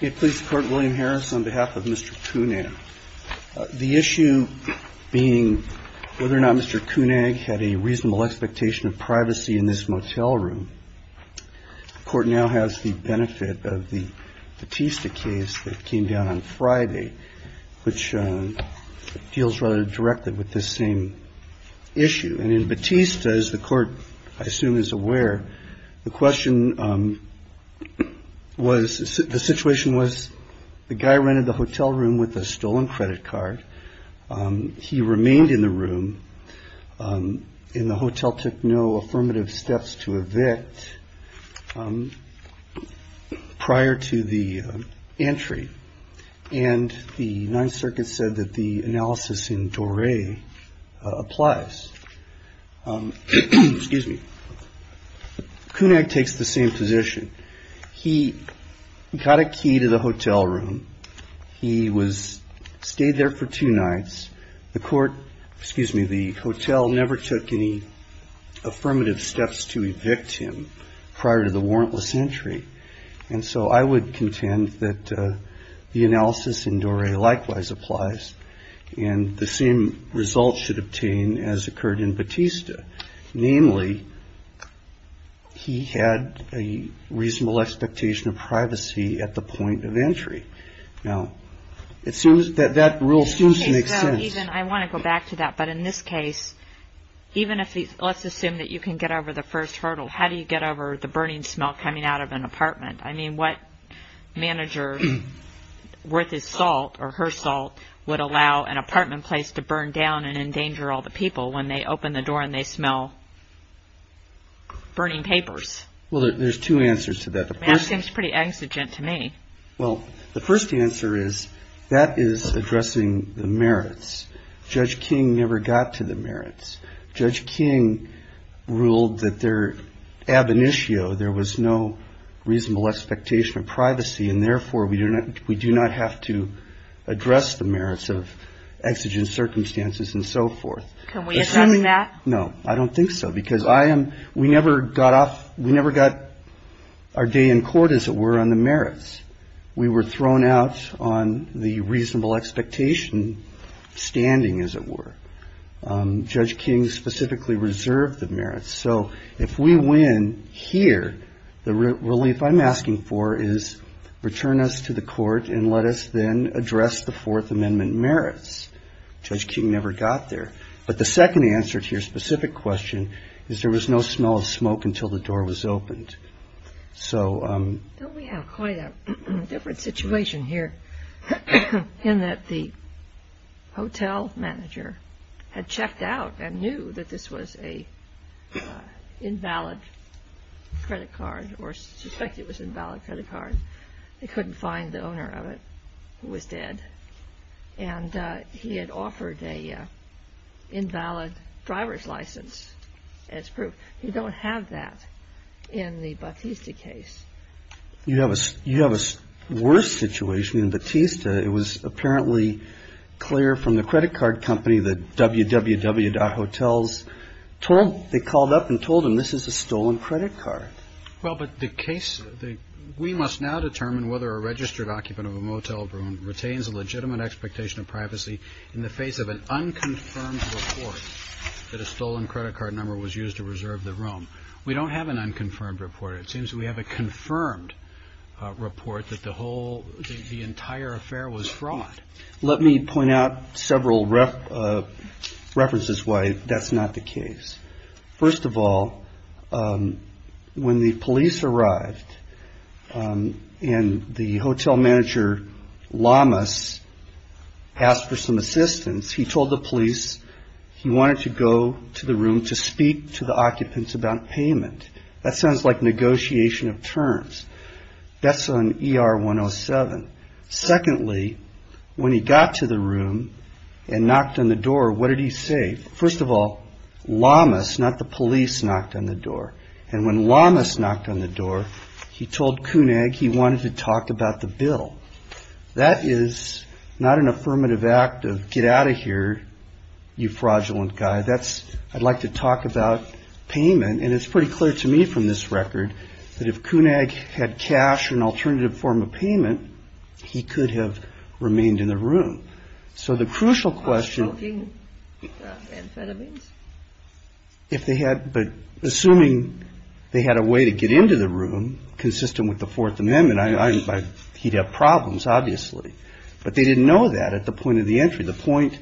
The issue being whether or not Mr. Cunag had a reasonable expectation of privacy in this motel room. The court now has the benefit of the Batista case that came down on Friday, which deals rather directly with this same issue. And in Batista, as the court I assume is aware, the question was, the situation was the guy rented the hotel room with a stolen credit card. He remained in the room and the hotel took no affirmative steps to evict prior to the entry. And the Ninth Circuit said that the analysis in Dore applies. Cunag takes the same position. He got a key to the hotel room. He stayed there for two nights. The hotel never took any affirmative steps to evict him prior to the warrantless entry. And so I would contend that the analysis in Dore likewise applies. And the same result should obtain as occurred in Batista. Namely, he had a reasonable expectation of privacy at the point of entry. Now, it seems that that rule still makes sense. I want to go back to that. But in this case, even if let's assume that you can get over the first hurdle, how do you get over the burning smell coming out of an apartment? I mean, what manager worth his salt or her salt would allow an apartment place to burn down and endanger all the people when they open the door and they smell burning papers? Well, there's two answers to that. That seems pretty exigent to me. Well, the first answer is that is addressing the merits. Judge King never got to the merits. Judge King ruled that their ab initio, there was no reasonable expectation of privacy, and therefore, we do not have to address the merits of exigent circumstances and so forth. Can we assume that? No, I don't think so, because I am. We never got off. We never got our day in court, as it were, on the merits. We were thrown out on the reasonable expectation standing, as it were. Judge King specifically reserved the merits. So if we win here, the relief I'm asking for is return us to the court and let us then address the Fourth Amendment merits. Judge King never got there. But the second answer to your specific question is there was no smell of smoke until the door was opened. Don't we have quite a different situation here in that the hotel manager had checked out and knew that this was an invalid credit card or suspected it was an invalid credit card. They couldn't find the owner of it, who was dead. And he had offered an invalid driver's license as proof. You don't have that in the Bautista case. You have a worse situation in Bautista. It was apparently clear from the credit card company that www.hotels, they called up and told him this is a stolen credit card. Well, but the case, we must now determine whether a registered occupant of a motel room retains a legitimate expectation of privacy in the face of an unconfirmed report that a stolen credit card number was used to reserve the room. We don't have an unconfirmed report. It seems we have a confirmed report that the whole, the entire affair was fraud. Let me point out several references why that's not the case. First of all, when the police arrived and the hotel manager, Lamas, asked for some assistance, he told the police he wanted to go to the room to speak to the occupants about payment. That sounds like negotiation of terms. That's on ER 107. Secondly, when he got to the room and knocked on the door, what did he say? First of all, Lamas, not the police, knocked on the door. And when Lamas knocked on the door, he told Koenig he wanted to talk about the bill. That is not an affirmative act of get out of here, you fraudulent guy. That's, I'd like to talk about payment. And it's pretty clear to me from this record that if Koenig had cash or an alternative form of payment, he could have remained in the room. So the crucial question. Assuming they had a way to get into the room consistent with the Fourth Amendment, he'd have problems, obviously. But they didn't know that at the point of the entry. The point,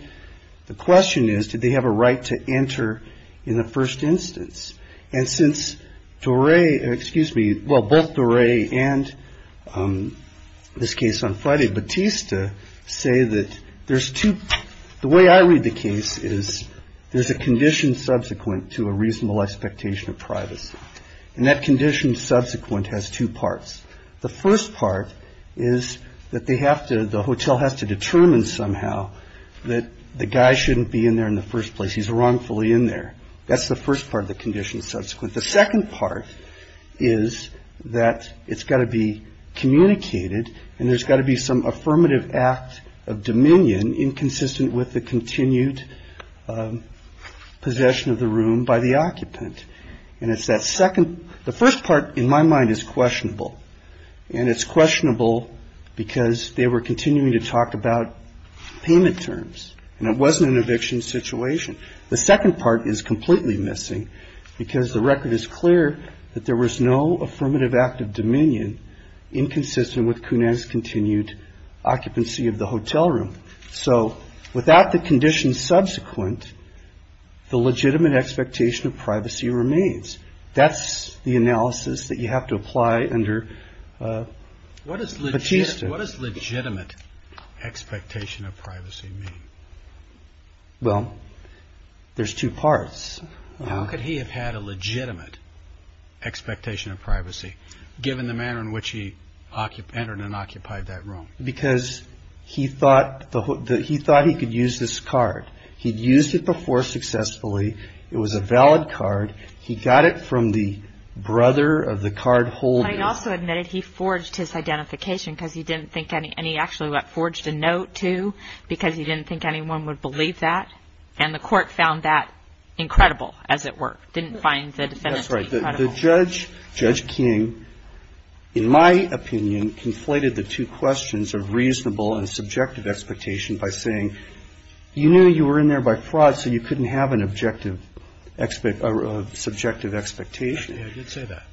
the question is, did they have a right to enter in the first instance? And since Doré, excuse me, well, both Doré and this case on Friday, Batista, say that there's two, the way I read the case is there's a condition subsequent to a reasonable expectation of privacy. And that condition subsequent has two parts. The first part is that they have to, the hotel has to determine somehow that the guy shouldn't be in there in the first place. He's wrongfully in there. That's the first part of the condition subsequent. The second part is that it's got to be communicated and there's got to be some affirmative act of dominion inconsistent with the continued possession of the room by the occupant. And it's that second, the first part in my mind is questionable. And it's questionable because they were continuing to talk about payment terms. And it wasn't an eviction situation. The second part is completely missing because the record is clear that there was no affirmative act of dominion inconsistent with Kunan's continued occupancy of the hotel room. So without the condition subsequent, the legitimate expectation of privacy remains. That's the analysis that you have to apply under Batista. What does legitimate expectation of privacy mean? Well, there's two parts. How could he have had a legitimate expectation of privacy given the manner in which he entered and occupied that room? Because he thought he could use this card. He'd used it before successfully. It was a valid card. He got it from the brother of the card holder. But he also admitted he forged his identification because he didn't think any, and he actually forged a note, too, because he didn't think anyone would believe that. And the court found that incredible, as it were. Didn't find the defendant to be credible. The judge, Judge King, in my opinion, conflated the two questions of reasonable and subjective expectation by saying, you knew you were in there by fraud, so you couldn't have an objective, subjective expectation. I did say that.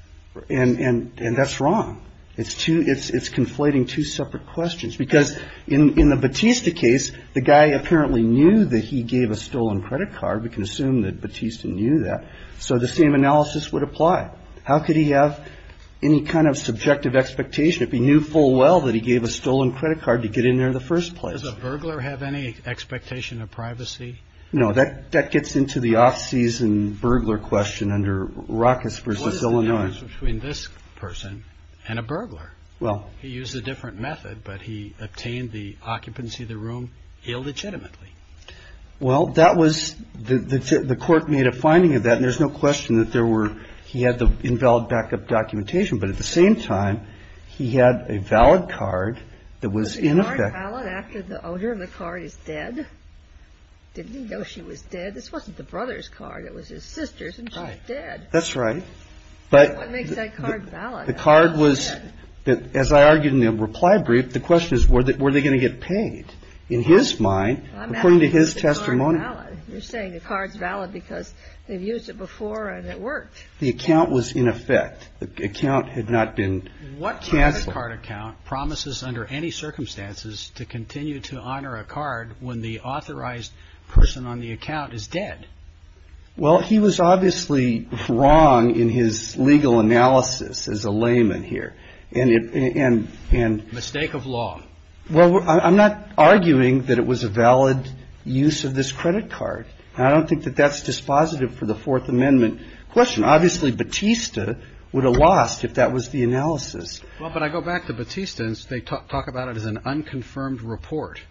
And that's wrong. It's conflating two separate questions because in the Batista case, the guy apparently knew that he gave a stolen credit card. We can assume that Batista knew that. So the same analysis would apply. How could he have any kind of subjective expectation if he knew full well that he gave a stolen credit card to get in there in the first place? Does a burglar have any expectation of privacy? No, that gets into the off-season burglar question under Ruckus v. Illinois. What is the difference between this person and a burglar? Well. He used a different method, but he obtained the occupancy of the room illegitimately. Well, that was, the court made a finding of that, and there's no question that there were, he had the invalid backup documentation, but at the same time, he had a valid card that was in effect. Well, the card is valid after the owner of the card is dead. Didn't he know she was dead? This wasn't the brother's card. It was his sister's, and she's dead. That's right. What makes that card valid? The card was, as I argued in the reply brief, the question is, were they going to get paid? In his mind, according to his testimony. You're saying the card's valid because they've used it before and it worked. The account was in effect. The account had not been canceled. The credit card account promises under any circumstances to continue to honor a card when the authorized person on the account is dead. Well, he was obviously wrong in his legal analysis as a layman here. Mistake of law. Well, I'm not arguing that it was a valid use of this credit card. I don't think that that's dispositive for the Fourth Amendment question. Obviously, Batista would have lost if that was the analysis. Well, but I go back to Batista, and they talk about it as an unconfirmed report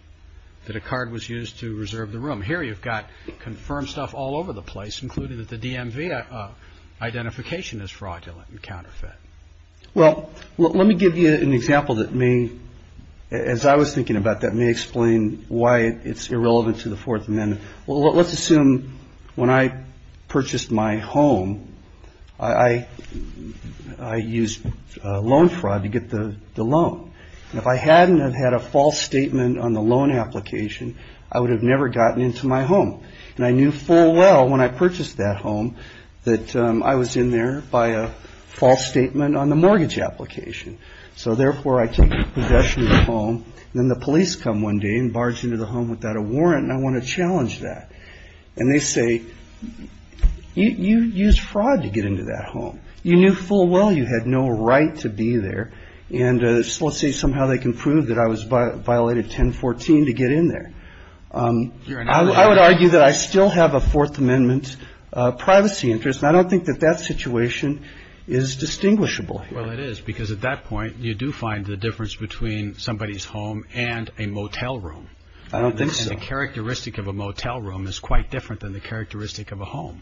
that a card was used to reserve the room. Here you've got confirmed stuff all over the place, including that the DMV identification is fraudulent and counterfeit. Well, let me give you an example that may, as I was thinking about that, may explain why it's irrelevant to the Fourth Amendment. Well, let's assume when I purchased my home, I used loan fraud to get the loan. If I hadn't have had a false statement on the loan application, I would have never gotten into my home. And I knew full well when I purchased that home that I was in there by a false statement on the mortgage application. So, therefore, I take possession of the home. Then the police come one day and barge into the home without a warrant, and I want to challenge that. And they say, you used fraud to get into that home. You knew full well you had no right to be there. And let's say somehow they can prove that I was violated 1014 to get in there. I would argue that I still have a Fourth Amendment privacy interest, and I don't think that that situation is distinguishable. Well, it is, because at that point you do find the difference between somebody's home and a motel room. I don't think so. And the characteristic of a motel room is quite different than the characteristic of a home.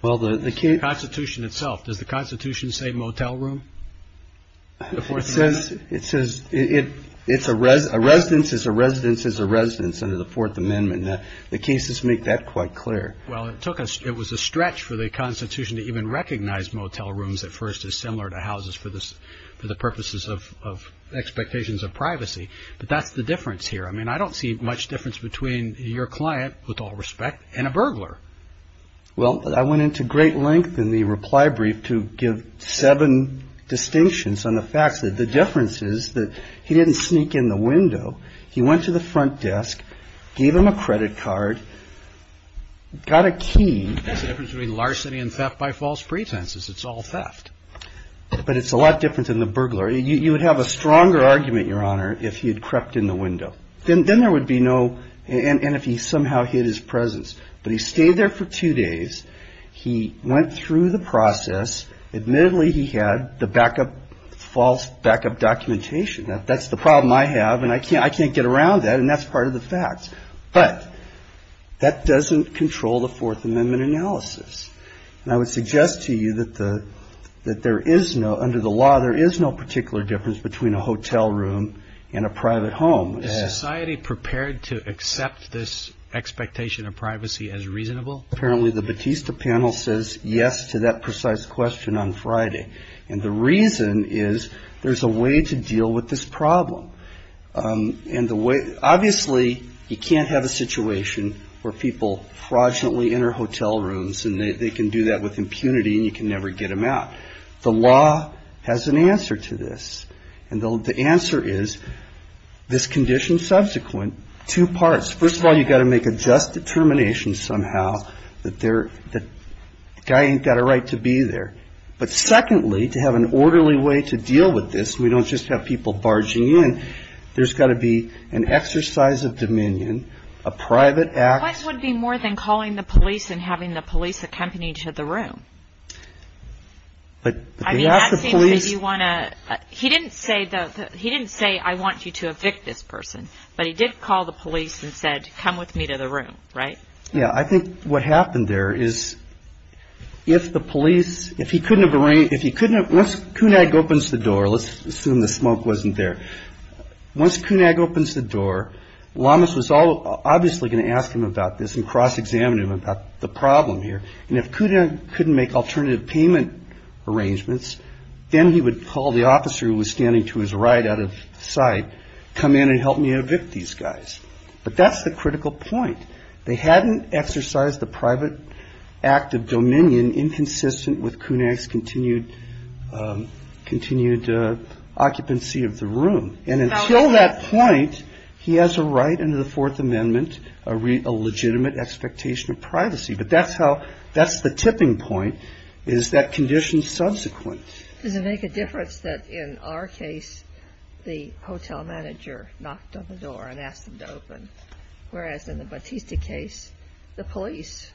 Well, the case... The Constitution itself. Does the Constitution say motel room? It says it's a residence is a residence is a residence under the Fourth Amendment. Now, the cases make that quite clear. Well, it took us... It was a stretch for the Constitution to even recognize motel rooms at first as similar to houses for the purposes of expectations of privacy. But that's the difference here. I mean, I don't see much difference between your client, with all respect, and a burglar. Well, I went into great length in the reply brief to give seven distinctions on the facts. He went to the front desk, gave him a credit card, got a key. There's a difference between larceny and theft by false pretenses. It's all theft. But it's a lot different than the burglar. You would have a stronger argument, Your Honor, if he had crept in the window. Then there would be no... And if he somehow hid his presence. But he stayed there for two days. He went through the process. Admittedly, he had the backup, false backup documentation. That's the problem I have, and I can't get around that, and that's part of the facts. But that doesn't control the Fourth Amendment analysis. And I would suggest to you that there is no... Under the law, there is no particular difference between a hotel room and a private home. Is society prepared to accept this expectation of privacy as reasonable? Apparently, the Batista panel says yes to that precise question on Friday. And the reason is there's a way to deal with this problem. And the way... Obviously, you can't have a situation where people fraudulently enter hotel rooms, and they can do that with impunity, and you can never get them out. The law has an answer to this. And the answer is this condition subsequent, two parts. First of all, you've got to make a just determination somehow that the guy ain't got a right to be there. But secondly, to have an orderly way to deal with this, we don't just have people barging in. There's got to be an exercise of dominion, a private act. This would be more than calling the police and having the police accompany you to the room. I mean, that seems like you want to... He didn't say, I want you to evict this person. But he did call the police and said, come with me to the room, right? Yeah, I think what happened there is if the police, if he couldn't have... Once Kunag opens the door, let's assume the smoke wasn't there. Once Kunag opens the door, Llamas was obviously going to ask him about this and cross-examine him about the problem here. And if Kunag couldn't make alternative payment arrangements, then he would call the officer who was standing to his right out of sight, come in and help me evict these guys. But that's the critical point. They hadn't exercised the private act of dominion inconsistent with Kunag's continued occupancy of the room. And until that point, he has a right under the Fourth Amendment, a legitimate expectation of privacy. But that's how, that's the tipping point, is that condition subsequent. Does it make a difference that in our case, the hotel manager knocked on the door and asked him to open, whereas in the Bautista case, the police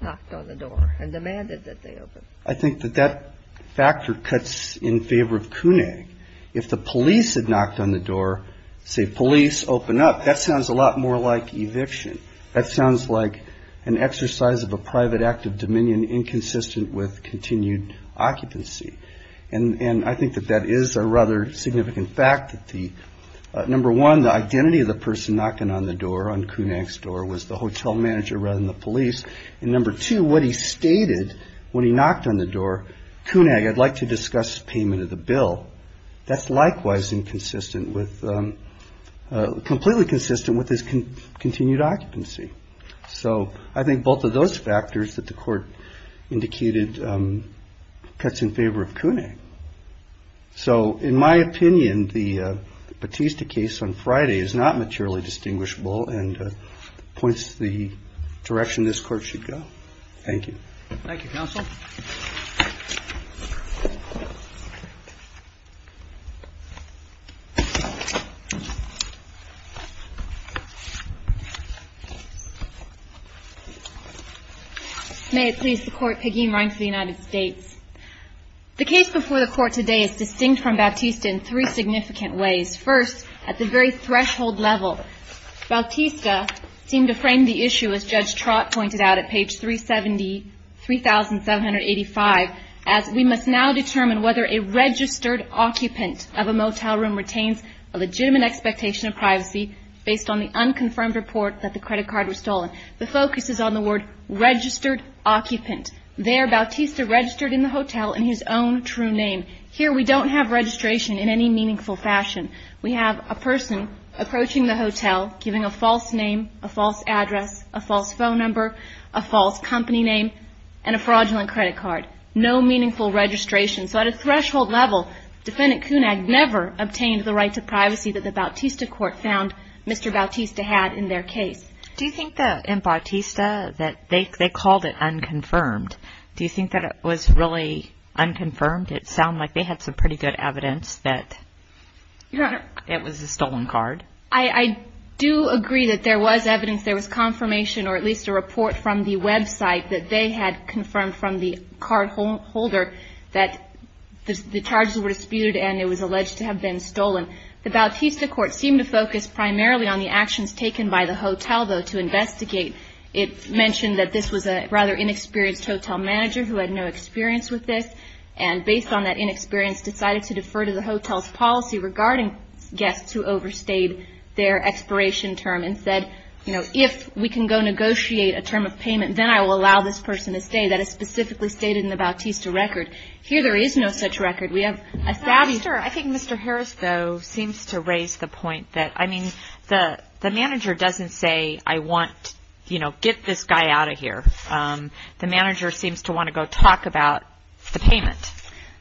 knocked on the door and demanded that they open? I think that that factor cuts in favor of Kunag. If the police had knocked on the door, say, police, open up, that sounds a lot more like eviction. That sounds like an exercise of a private act of dominion inconsistent with continued occupancy. And I think that that is a rather significant fact that the, number one, the identity of the person knocking on the door on Kunag's door was the hotel manager rather than the police. And number two, what he stated when he knocked on the door, Kunag, I'd like to discuss payment of the bill. That's likewise inconsistent with, completely consistent with his continued occupancy. So I think both of those factors that the court indicated cuts in favor of Kunag. So in my opinion, the Bautista case on Friday is not materially distinguishable and points to the direction this court should go. Thank you. Thank you, counsel. May it please the Court, Peggy Meier for the United States. The case before the Court today is distinct from Bautista in three significant ways. First, at the very threshold level, Bautista seemed to frame the issue, as Judge Trott pointed out at page 370, 3785, as we must now determine whether a registered occupant of a motel room retains a legitimate expectation of privacy based on the unconfirmed report that the credit card was stolen. The focus is on the word registered occupant. There, Bautista registered in the hotel in his own true name. Here, we don't have registration in any meaningful fashion. We have a person approaching the hotel, giving a false name, a false address, a false phone number, a false company name, and a fraudulent credit card. No meaningful registration. So at a threshold level, Defendant Kunag never obtained the right to privacy that the Bautista court found Mr. Bautista had in their case. Do you think that in Bautista that they called it unconfirmed? Do you think that it was really unconfirmed? It sounded like they had some pretty good evidence that it was a stolen card. I do agree that there was evidence, there was confirmation, or at least a report from the website that they had confirmed from the cardholder that the charges were disputed and it was alleged to have been stolen. The Bautista court seemed to focus primarily on the actions taken by the hotel, though, to investigate. It mentioned that this was a rather inexperienced hotel manager who had no experience with this, and based on that inexperience decided to defer to the hotel's policy regarding guests who overstayed their expiration term and said, you know, if we can go negotiate a term of payment, then I will allow this person to stay. That is specifically stated in the Bautista record. Here there is no such record. We have a savvy... I think Mr. Harris, though, seems to raise the point that, I mean, the manager doesn't say, I want, you know, get this guy out of here. The manager seems to want to go talk about the payment.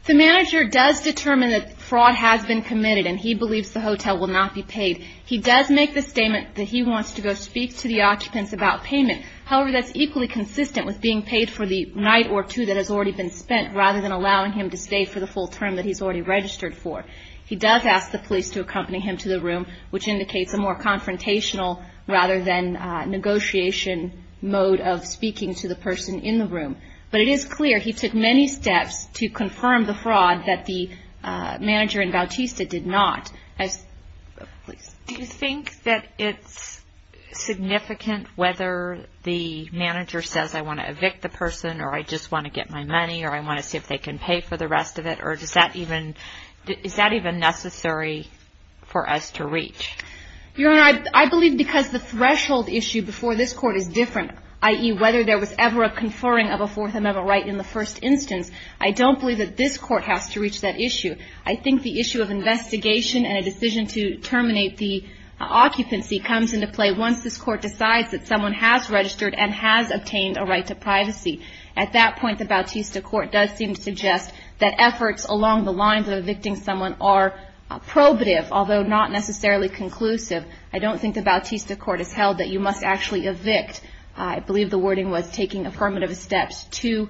The manager does determine that fraud has been committed and he believes the hotel will not be paid. He does make the statement that he wants to go speak to the occupants about payment. However, that's equally consistent with being paid for the night or two that has already been spent rather than allowing him to stay for the full term that he's already registered for. He does ask the police to accompany him to the room, which indicates a more confrontational rather than negotiation mode of speaking to the person in the room. But it is clear he took many steps to confirm the fraud that the manager in Bautista did not. Do you think that it's significant whether the manager says, I want to evict the person or I just want to get my money or I want to see if they can pay for the rest of it or is that even necessary for us to reach? Your Honor, I believe because the threshold issue before this Court is different, i.e. whether there was ever a conferring of a Fourth Amendment right in the first instance, I don't believe that this Court has to reach that issue. I think the issue of investigation and a decision to terminate the occupancy comes into play once this Court decides that someone has registered and has obtained a right to privacy. At that point, the Bautista Court does seem to suggest that efforts along the lines of evicting someone are probative, although not necessarily conclusive. I don't think the Bautista Court has held that you must actually evict. I believe the wording was taking affirmative steps to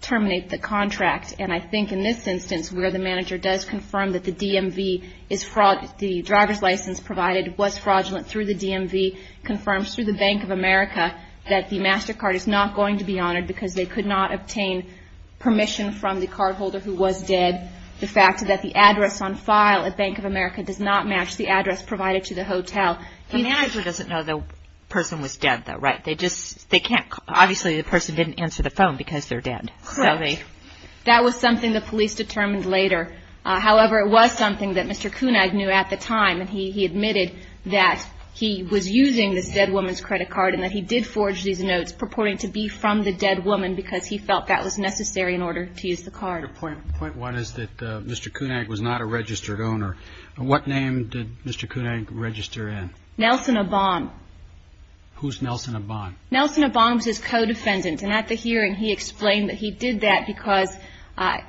terminate the contract. And I think in this instance where the manager does confirm that the DMV is fraud, the driver's license provided was fraudulent through the DMV, confirms through the Bank of America that the MasterCard is not going to be honored because they could not obtain permission from the cardholder who was dead. The fact that the address on file at Bank of America does not match the address provided to the hotel. The manager doesn't know the person was dead though, right? They just can't, obviously the person didn't answer the phone because they're dead. Correct. That was something the police determined later. However, it was something that Mr. Kunag knew at the time and he admitted that he was using this dead woman's credit card and that he did forge these notes purporting to be from the dead woman because he felt that was necessary in order to use the card. Point one is that Mr. Kunag was not a registered owner. What name did Mr. Kunag register in? Nelson Abon. Who's Nelson Abon? Nelson Abon was his co-defendant and at the hearing he explained that he did that because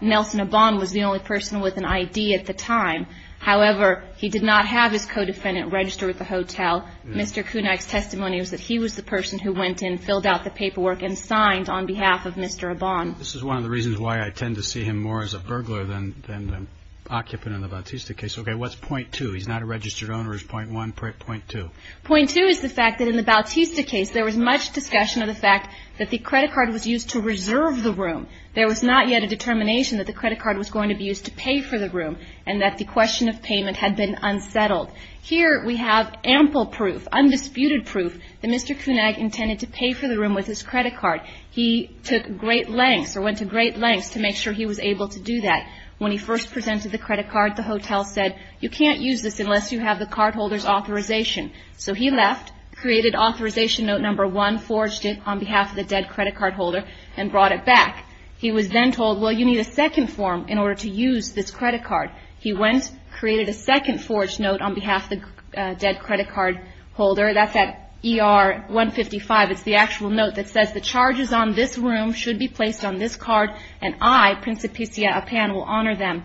Nelson Abon was the only person with an ID at the time. However, he did not have his co-defendant register at the hotel. Mr. Kunag's testimony was that he was the person who went in, filled out the paperwork and signed on behalf of Mr. Abon. This is one of the reasons why I tend to see him more as a burglar than an occupant in the Bautista case. Okay, what's point two? He's not a registered owner is point one. Point two? Point two is the fact that in the Bautista case there was much discussion of the fact that the credit card was used to reserve the room. There was not yet a determination that the credit card was going to be used to pay for the room and that the question of payment had been unsettled. Here we have ample proof, undisputed proof, that Mr. Kunag intended to pay for the room with his credit card. He took great lengths or went to great lengths to make sure he was able to do that. When he first presented the credit card, the hotel said, you can't use this unless you have the cardholder's authorization. So he left, created authorization note number one, forged it on behalf of the dead credit card holder and brought it back. He was then told, well, you need a second form in order to use this credit card. He went, created a second forged note on behalf of the dead credit card holder. That's at ER 155. It's the actual note that says the charges on this room should be placed on this card and I, Principicia Appan, will honor them.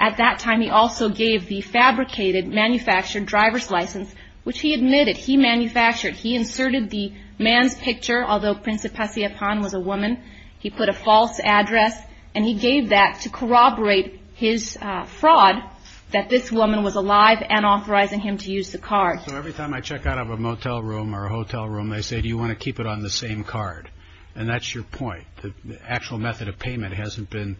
At that time he also gave the fabricated, manufactured driver's license, which he admitted he manufactured. He inserted the man's picture, although Principicia Appan was a woman. He put a false address and he gave that to corroborate his fraud, that this woman was alive and authorizing him to use the card. So every time I check out of a motel room or a hotel room they say, do you want to keep it on the same card? And that's your point, the actual method of payment hasn't been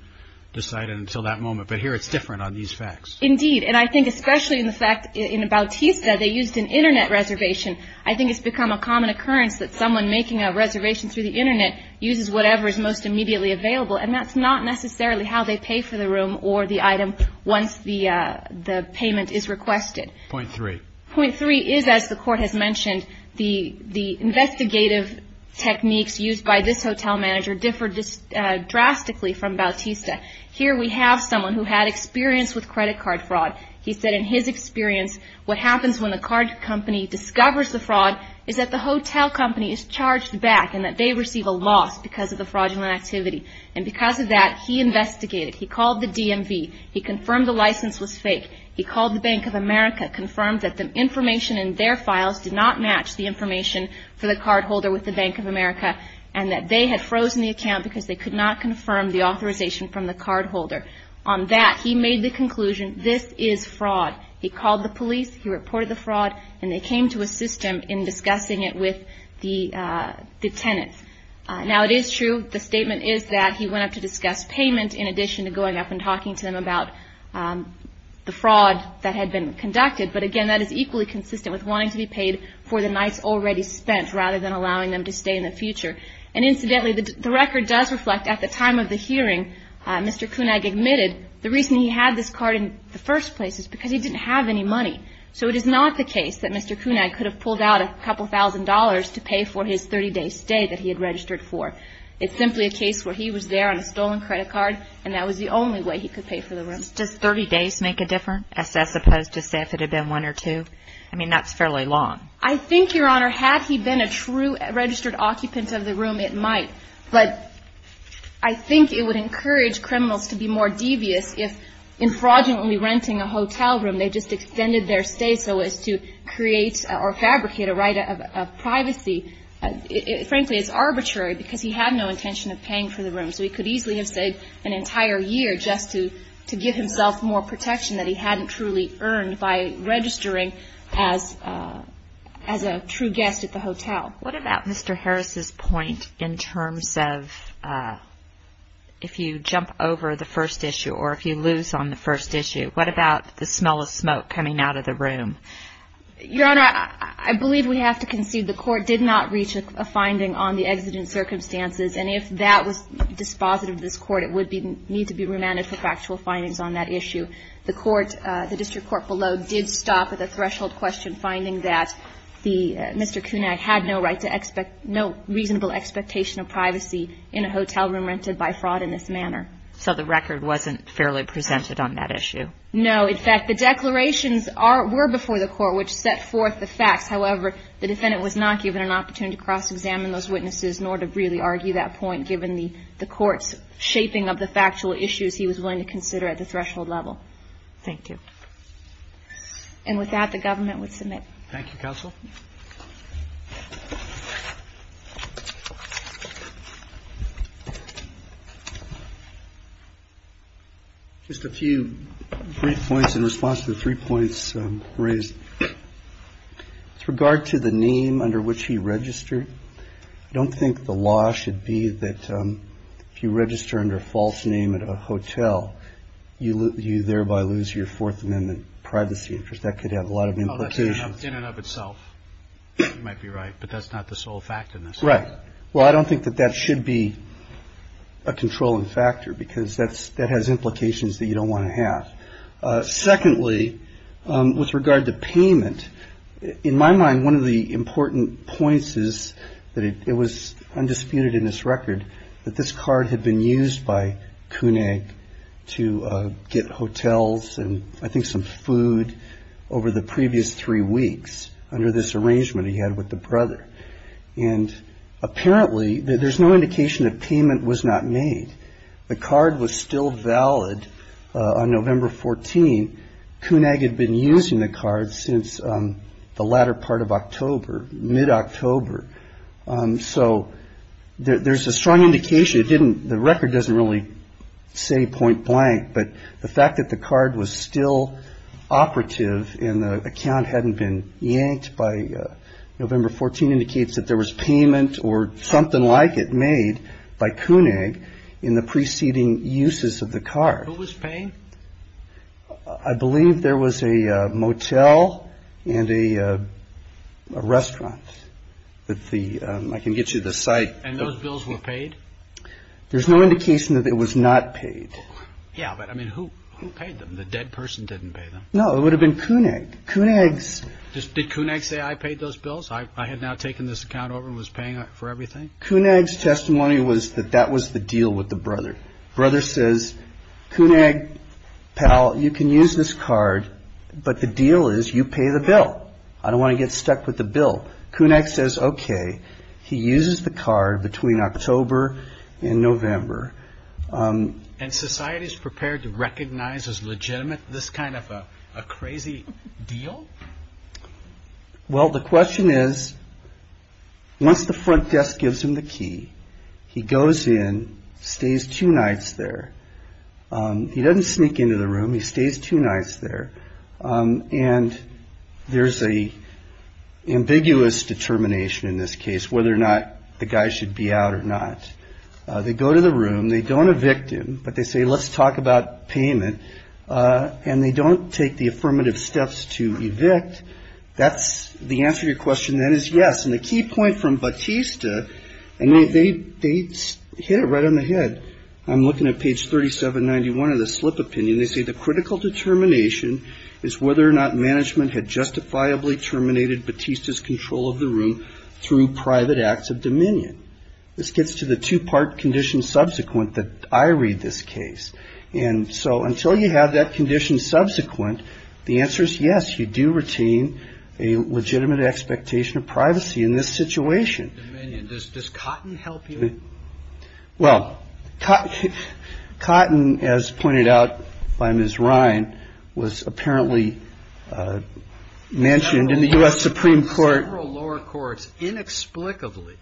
decided until that moment. But here it's different on these facts. Indeed, and I think especially in the fact in Bautista they used an Internet reservation. I think it's become a common occurrence that someone making a reservation through the Internet uses whatever is most immediately available and that's not necessarily how they pay for the room or the item once the payment is requested. Point three. Point three is, as the Court has mentioned, the investigative techniques used by this hotel manager differ drastically from Bautista. Here we have someone who had experience with credit card fraud. He said in his experience what happens when the card company discovers the fraud is that the hotel company is charged back and that they receive a loss because of the fraudulent activity. And because of that he investigated. He called the DMV. He confirmed the license was fake. He called the Bank of America, confirmed that the information in their files did not match the information for the cardholder with the Bank of America, and that they had frozen the account because they could not confirm the authorization from the cardholder. On that he made the conclusion this is fraud. He called the police. He reported the fraud. And they came to assist him in discussing it with the tenants. Now, it is true the statement is that he went up to discuss payment in addition to going up and talking to them about the fraud that had been conducted. But, again, that is equally consistent with wanting to be paid for the nights already spent rather than allowing them to stay in the future. And, incidentally, the record does reflect at the time of the hearing Mr. Kunag admitted the reason he had this card in the first place is because he didn't have any money. So it is not the case that Mr. Kunag could have pulled out a couple thousand dollars to pay for his 30-day stay that he had registered for. It's simply a case where he was there on a stolen credit card, and that was the only way he could pay for the room. Does 30 days make a difference as opposed to, say, if it had been one or two? I mean, that's fairly long. I think, Your Honor, had he been a true registered occupant of the room, it might. But I think it would encourage criminals to be more devious if in fraudulently renting a hotel room they just extended their stay so as to create or fabricate a right of privacy. Frankly, it's arbitrary because he had no intention of paying for the room. So he could easily have stayed an entire year just to give himself more protection that he hadn't truly earned by registering as a true guest at the hotel. What about Mr. Harris's point in terms of if you jump over the first issue or if you lose on the first issue, what about the smell of smoke coming out of the room? Your Honor, I believe we have to concede the Court did not reach a finding on the exigent circumstances, and if that was dispositive of this Court, it would need to be remanded for factual findings on that issue. The District Court below did stop at the threshold question, finding that Mr. Kunak had no reasonable expectation of privacy in a hotel room rented by fraud in this manner. So the record wasn't fairly presented on that issue? No. In fact, the declarations were before the Court, which set forth the facts. However, the defendant was not given an opportunity to cross-examine those witnesses nor to really argue that point given the Court's shaping of the factual issues he was willing to consider at the threshold level. Thank you. And with that, the Government would submit. Thank you, Counsel. Just a few brief points in response to the three points raised. With regard to the name under which he registered, I don't think the law should be that if you register under a false name at a hotel, you thereby lose your Fourth Amendment privacy interest. That could have a lot of implications. Oh, that's in and of itself. You might be right, but that's not the sole fact in this case. Right. Well, I don't think that that should be a controlling factor because that has implications that you don't want to have. Secondly, with regard to payment, in my mind, one of the important points is that it was undisputed in this record that this card had been used by Kunak to get hotels and I think some food over the previous three weeks under this arrangement he had with the brother. And apparently there's no indication that payment was not made. The card was still valid on November 14. Kunak had been using the card since the latter part of October, mid-October. So there's a strong indication it didn't the record doesn't really say point blank, but the fact that the card was still operative and the account hadn't been yanked by November 14 indicates that there was payment or something like it made by Kunak in the preceding uses of the card. Who was paying? I believe there was a motel and a restaurant that the – I can get you the site. And those bills were paid? There's no indication that it was not paid. Yeah, but, I mean, who paid them? The dead person didn't pay them. No, it would have been Kunak. Kunak's – Did Kunak say I paid those bills? I had now taken this account over and was paying for everything? Kunak's testimony was that that was the deal with the brother. Brother says, Kunak, pal, you can use this card, but the deal is you pay the bill. I don't want to get stuck with the bill. Kunak says, okay. He uses the card between October and November. And society is prepared to recognize as legitimate this kind of a crazy deal? Well, the question is, once the front desk gives him the key, he goes in, stays two nights there. He doesn't sneak into the room. He stays two nights there. And there's an ambiguous determination in this case whether or not the guy should be out or not. They go to the room. They don't evict him, but they say, let's talk about payment. And they don't take the affirmative steps to evict. That's the answer to your question then is yes. And the key point from Batista, and they hit it right on the head. I'm looking at page 3791 of the slip opinion. They say the critical determination is whether or not management had justifiably terminated Batista's control of the room through private acts of dominion. This gets to the two-part condition subsequent that I read this case. And so until you have that condition subsequent, the answer is yes, you do retain a legitimate expectation of privacy in this situation. Dominion. Does Cotton help you? Well, Cotton, as pointed out by Ms. Ryan, was apparently mentioned in the U.S. Supreme Court. Several lower courts inexplicably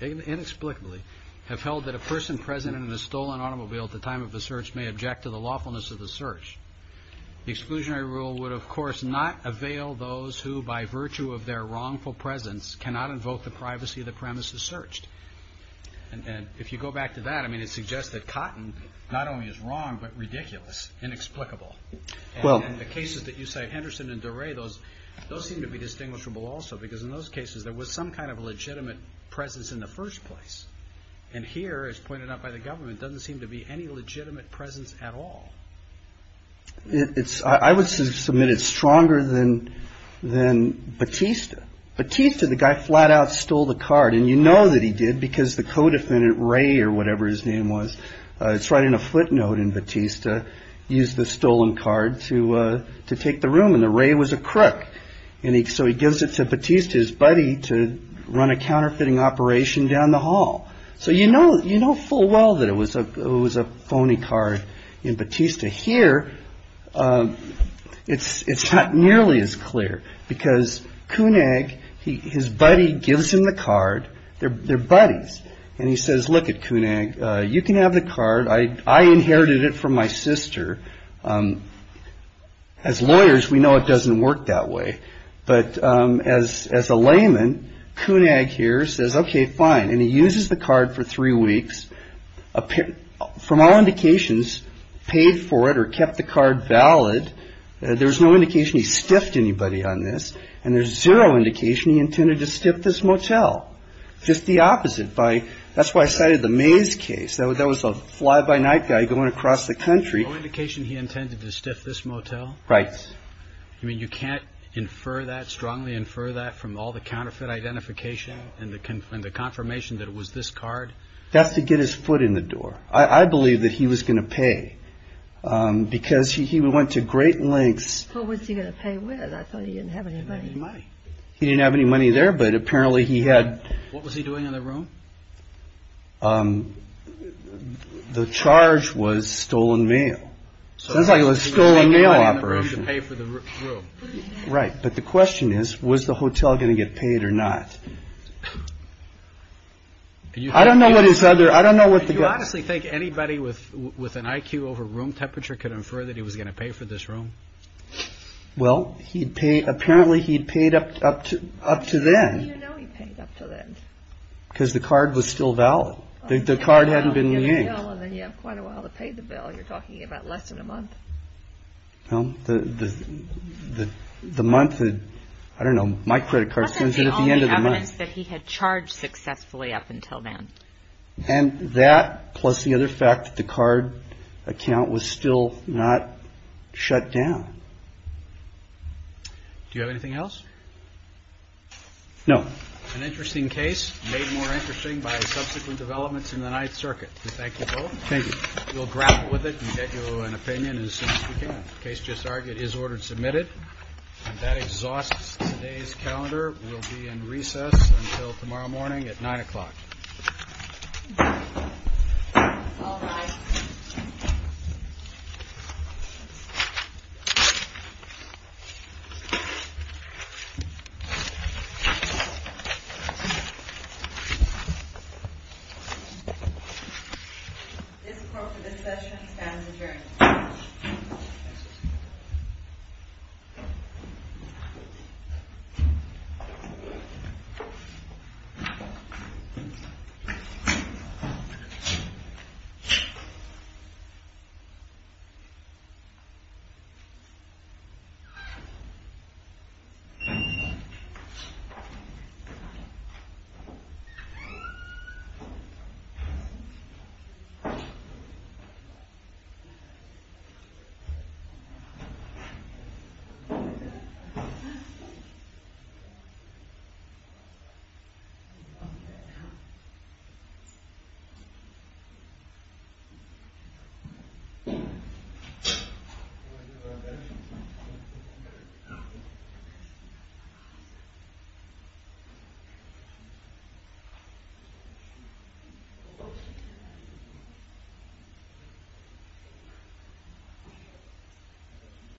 have held that a person present in a stolen automobile at the time of the search may object to the lawfulness of the search. The exclusionary rule would, of course, not avail those who, by virtue of their wrongful presence, cannot invoke the privacy of the premises searched. And if you go back to that, I mean, it suggests that Cotton not only is wrong but ridiculous, inexplicable. And the cases that you cite, Henderson and Doré, those seem to be distinguishable also because in those cases there was some kind of legitimate presence in the first place. And here, as pointed out by the government, doesn't seem to be any legitimate presence at all. I would submit it's stronger than Batista. Batista, the guy flat out stole the card. And you know that he did because the co-defendant, Ray or whatever his name was, it's right in a footnote in Batista, used the stolen card to take the room. And Ray was a crook. And so he gives it to Batista, his buddy, to run a counterfeiting operation down the hall. So you know full well that it was a phony card in Batista. Here, it's not nearly as clear because Koenig, his buddy, gives him the card. They're buddies. And he says, look it, Koenig, you can have the card. I inherited it from my sister. As lawyers, we know it doesn't work that way. But as a layman, Koenig here says, okay, fine. And he uses the card for three weeks. From all indications, paid for it or kept the card valid. There's no indication he stiffed anybody on this. And there's zero indication he intended to stiff this motel. Just the opposite. That's why I cited the Mays case. That was a fly-by-night guy going across the country. There's no indication he intended to stiff this motel? Right. You mean you can't strongly infer that from all the counterfeit identification and the confirmation that it was this card? That's to get his foot in the door. I believe that he was going to pay because he went to great lengths. What was he going to pay with? I thought he didn't have any money. He didn't have any money there, but apparently he had. What was he doing in the room? The charge was stolen mail. Sounds like it was a stolen mail operation. Pay for the room. Right. But the question is, was the hotel going to get paid or not? I don't know what he said there. I don't know what. Do you honestly think anybody with an IQ over room temperature could infer that he was going to pay for this room? Well, he'd pay. Apparently he'd paid up to up to then. How do you know he paid up to then? Because the card was still valid. The card hadn't been used. And then you have quite a while to pay the bill. You're talking about less than a month. The month, I don't know, my credit card says that at the end of the month. That's the only evidence that he had charged successfully up until then. And that plus the other fact that the card account was still not shut down. Do you have anything else? No. An interesting case made more interesting by subsequent developments in the Ninth Circuit. Thank you both. Thank you. We'll grapple with it and get you an opinion as soon as we can. The case just argued is ordered submitted. And that exhausts today's calendar. We'll be in recess until tomorrow morning at 9 o'clock. All rise. This court for this session stands adjourned. Thank you. Thank you.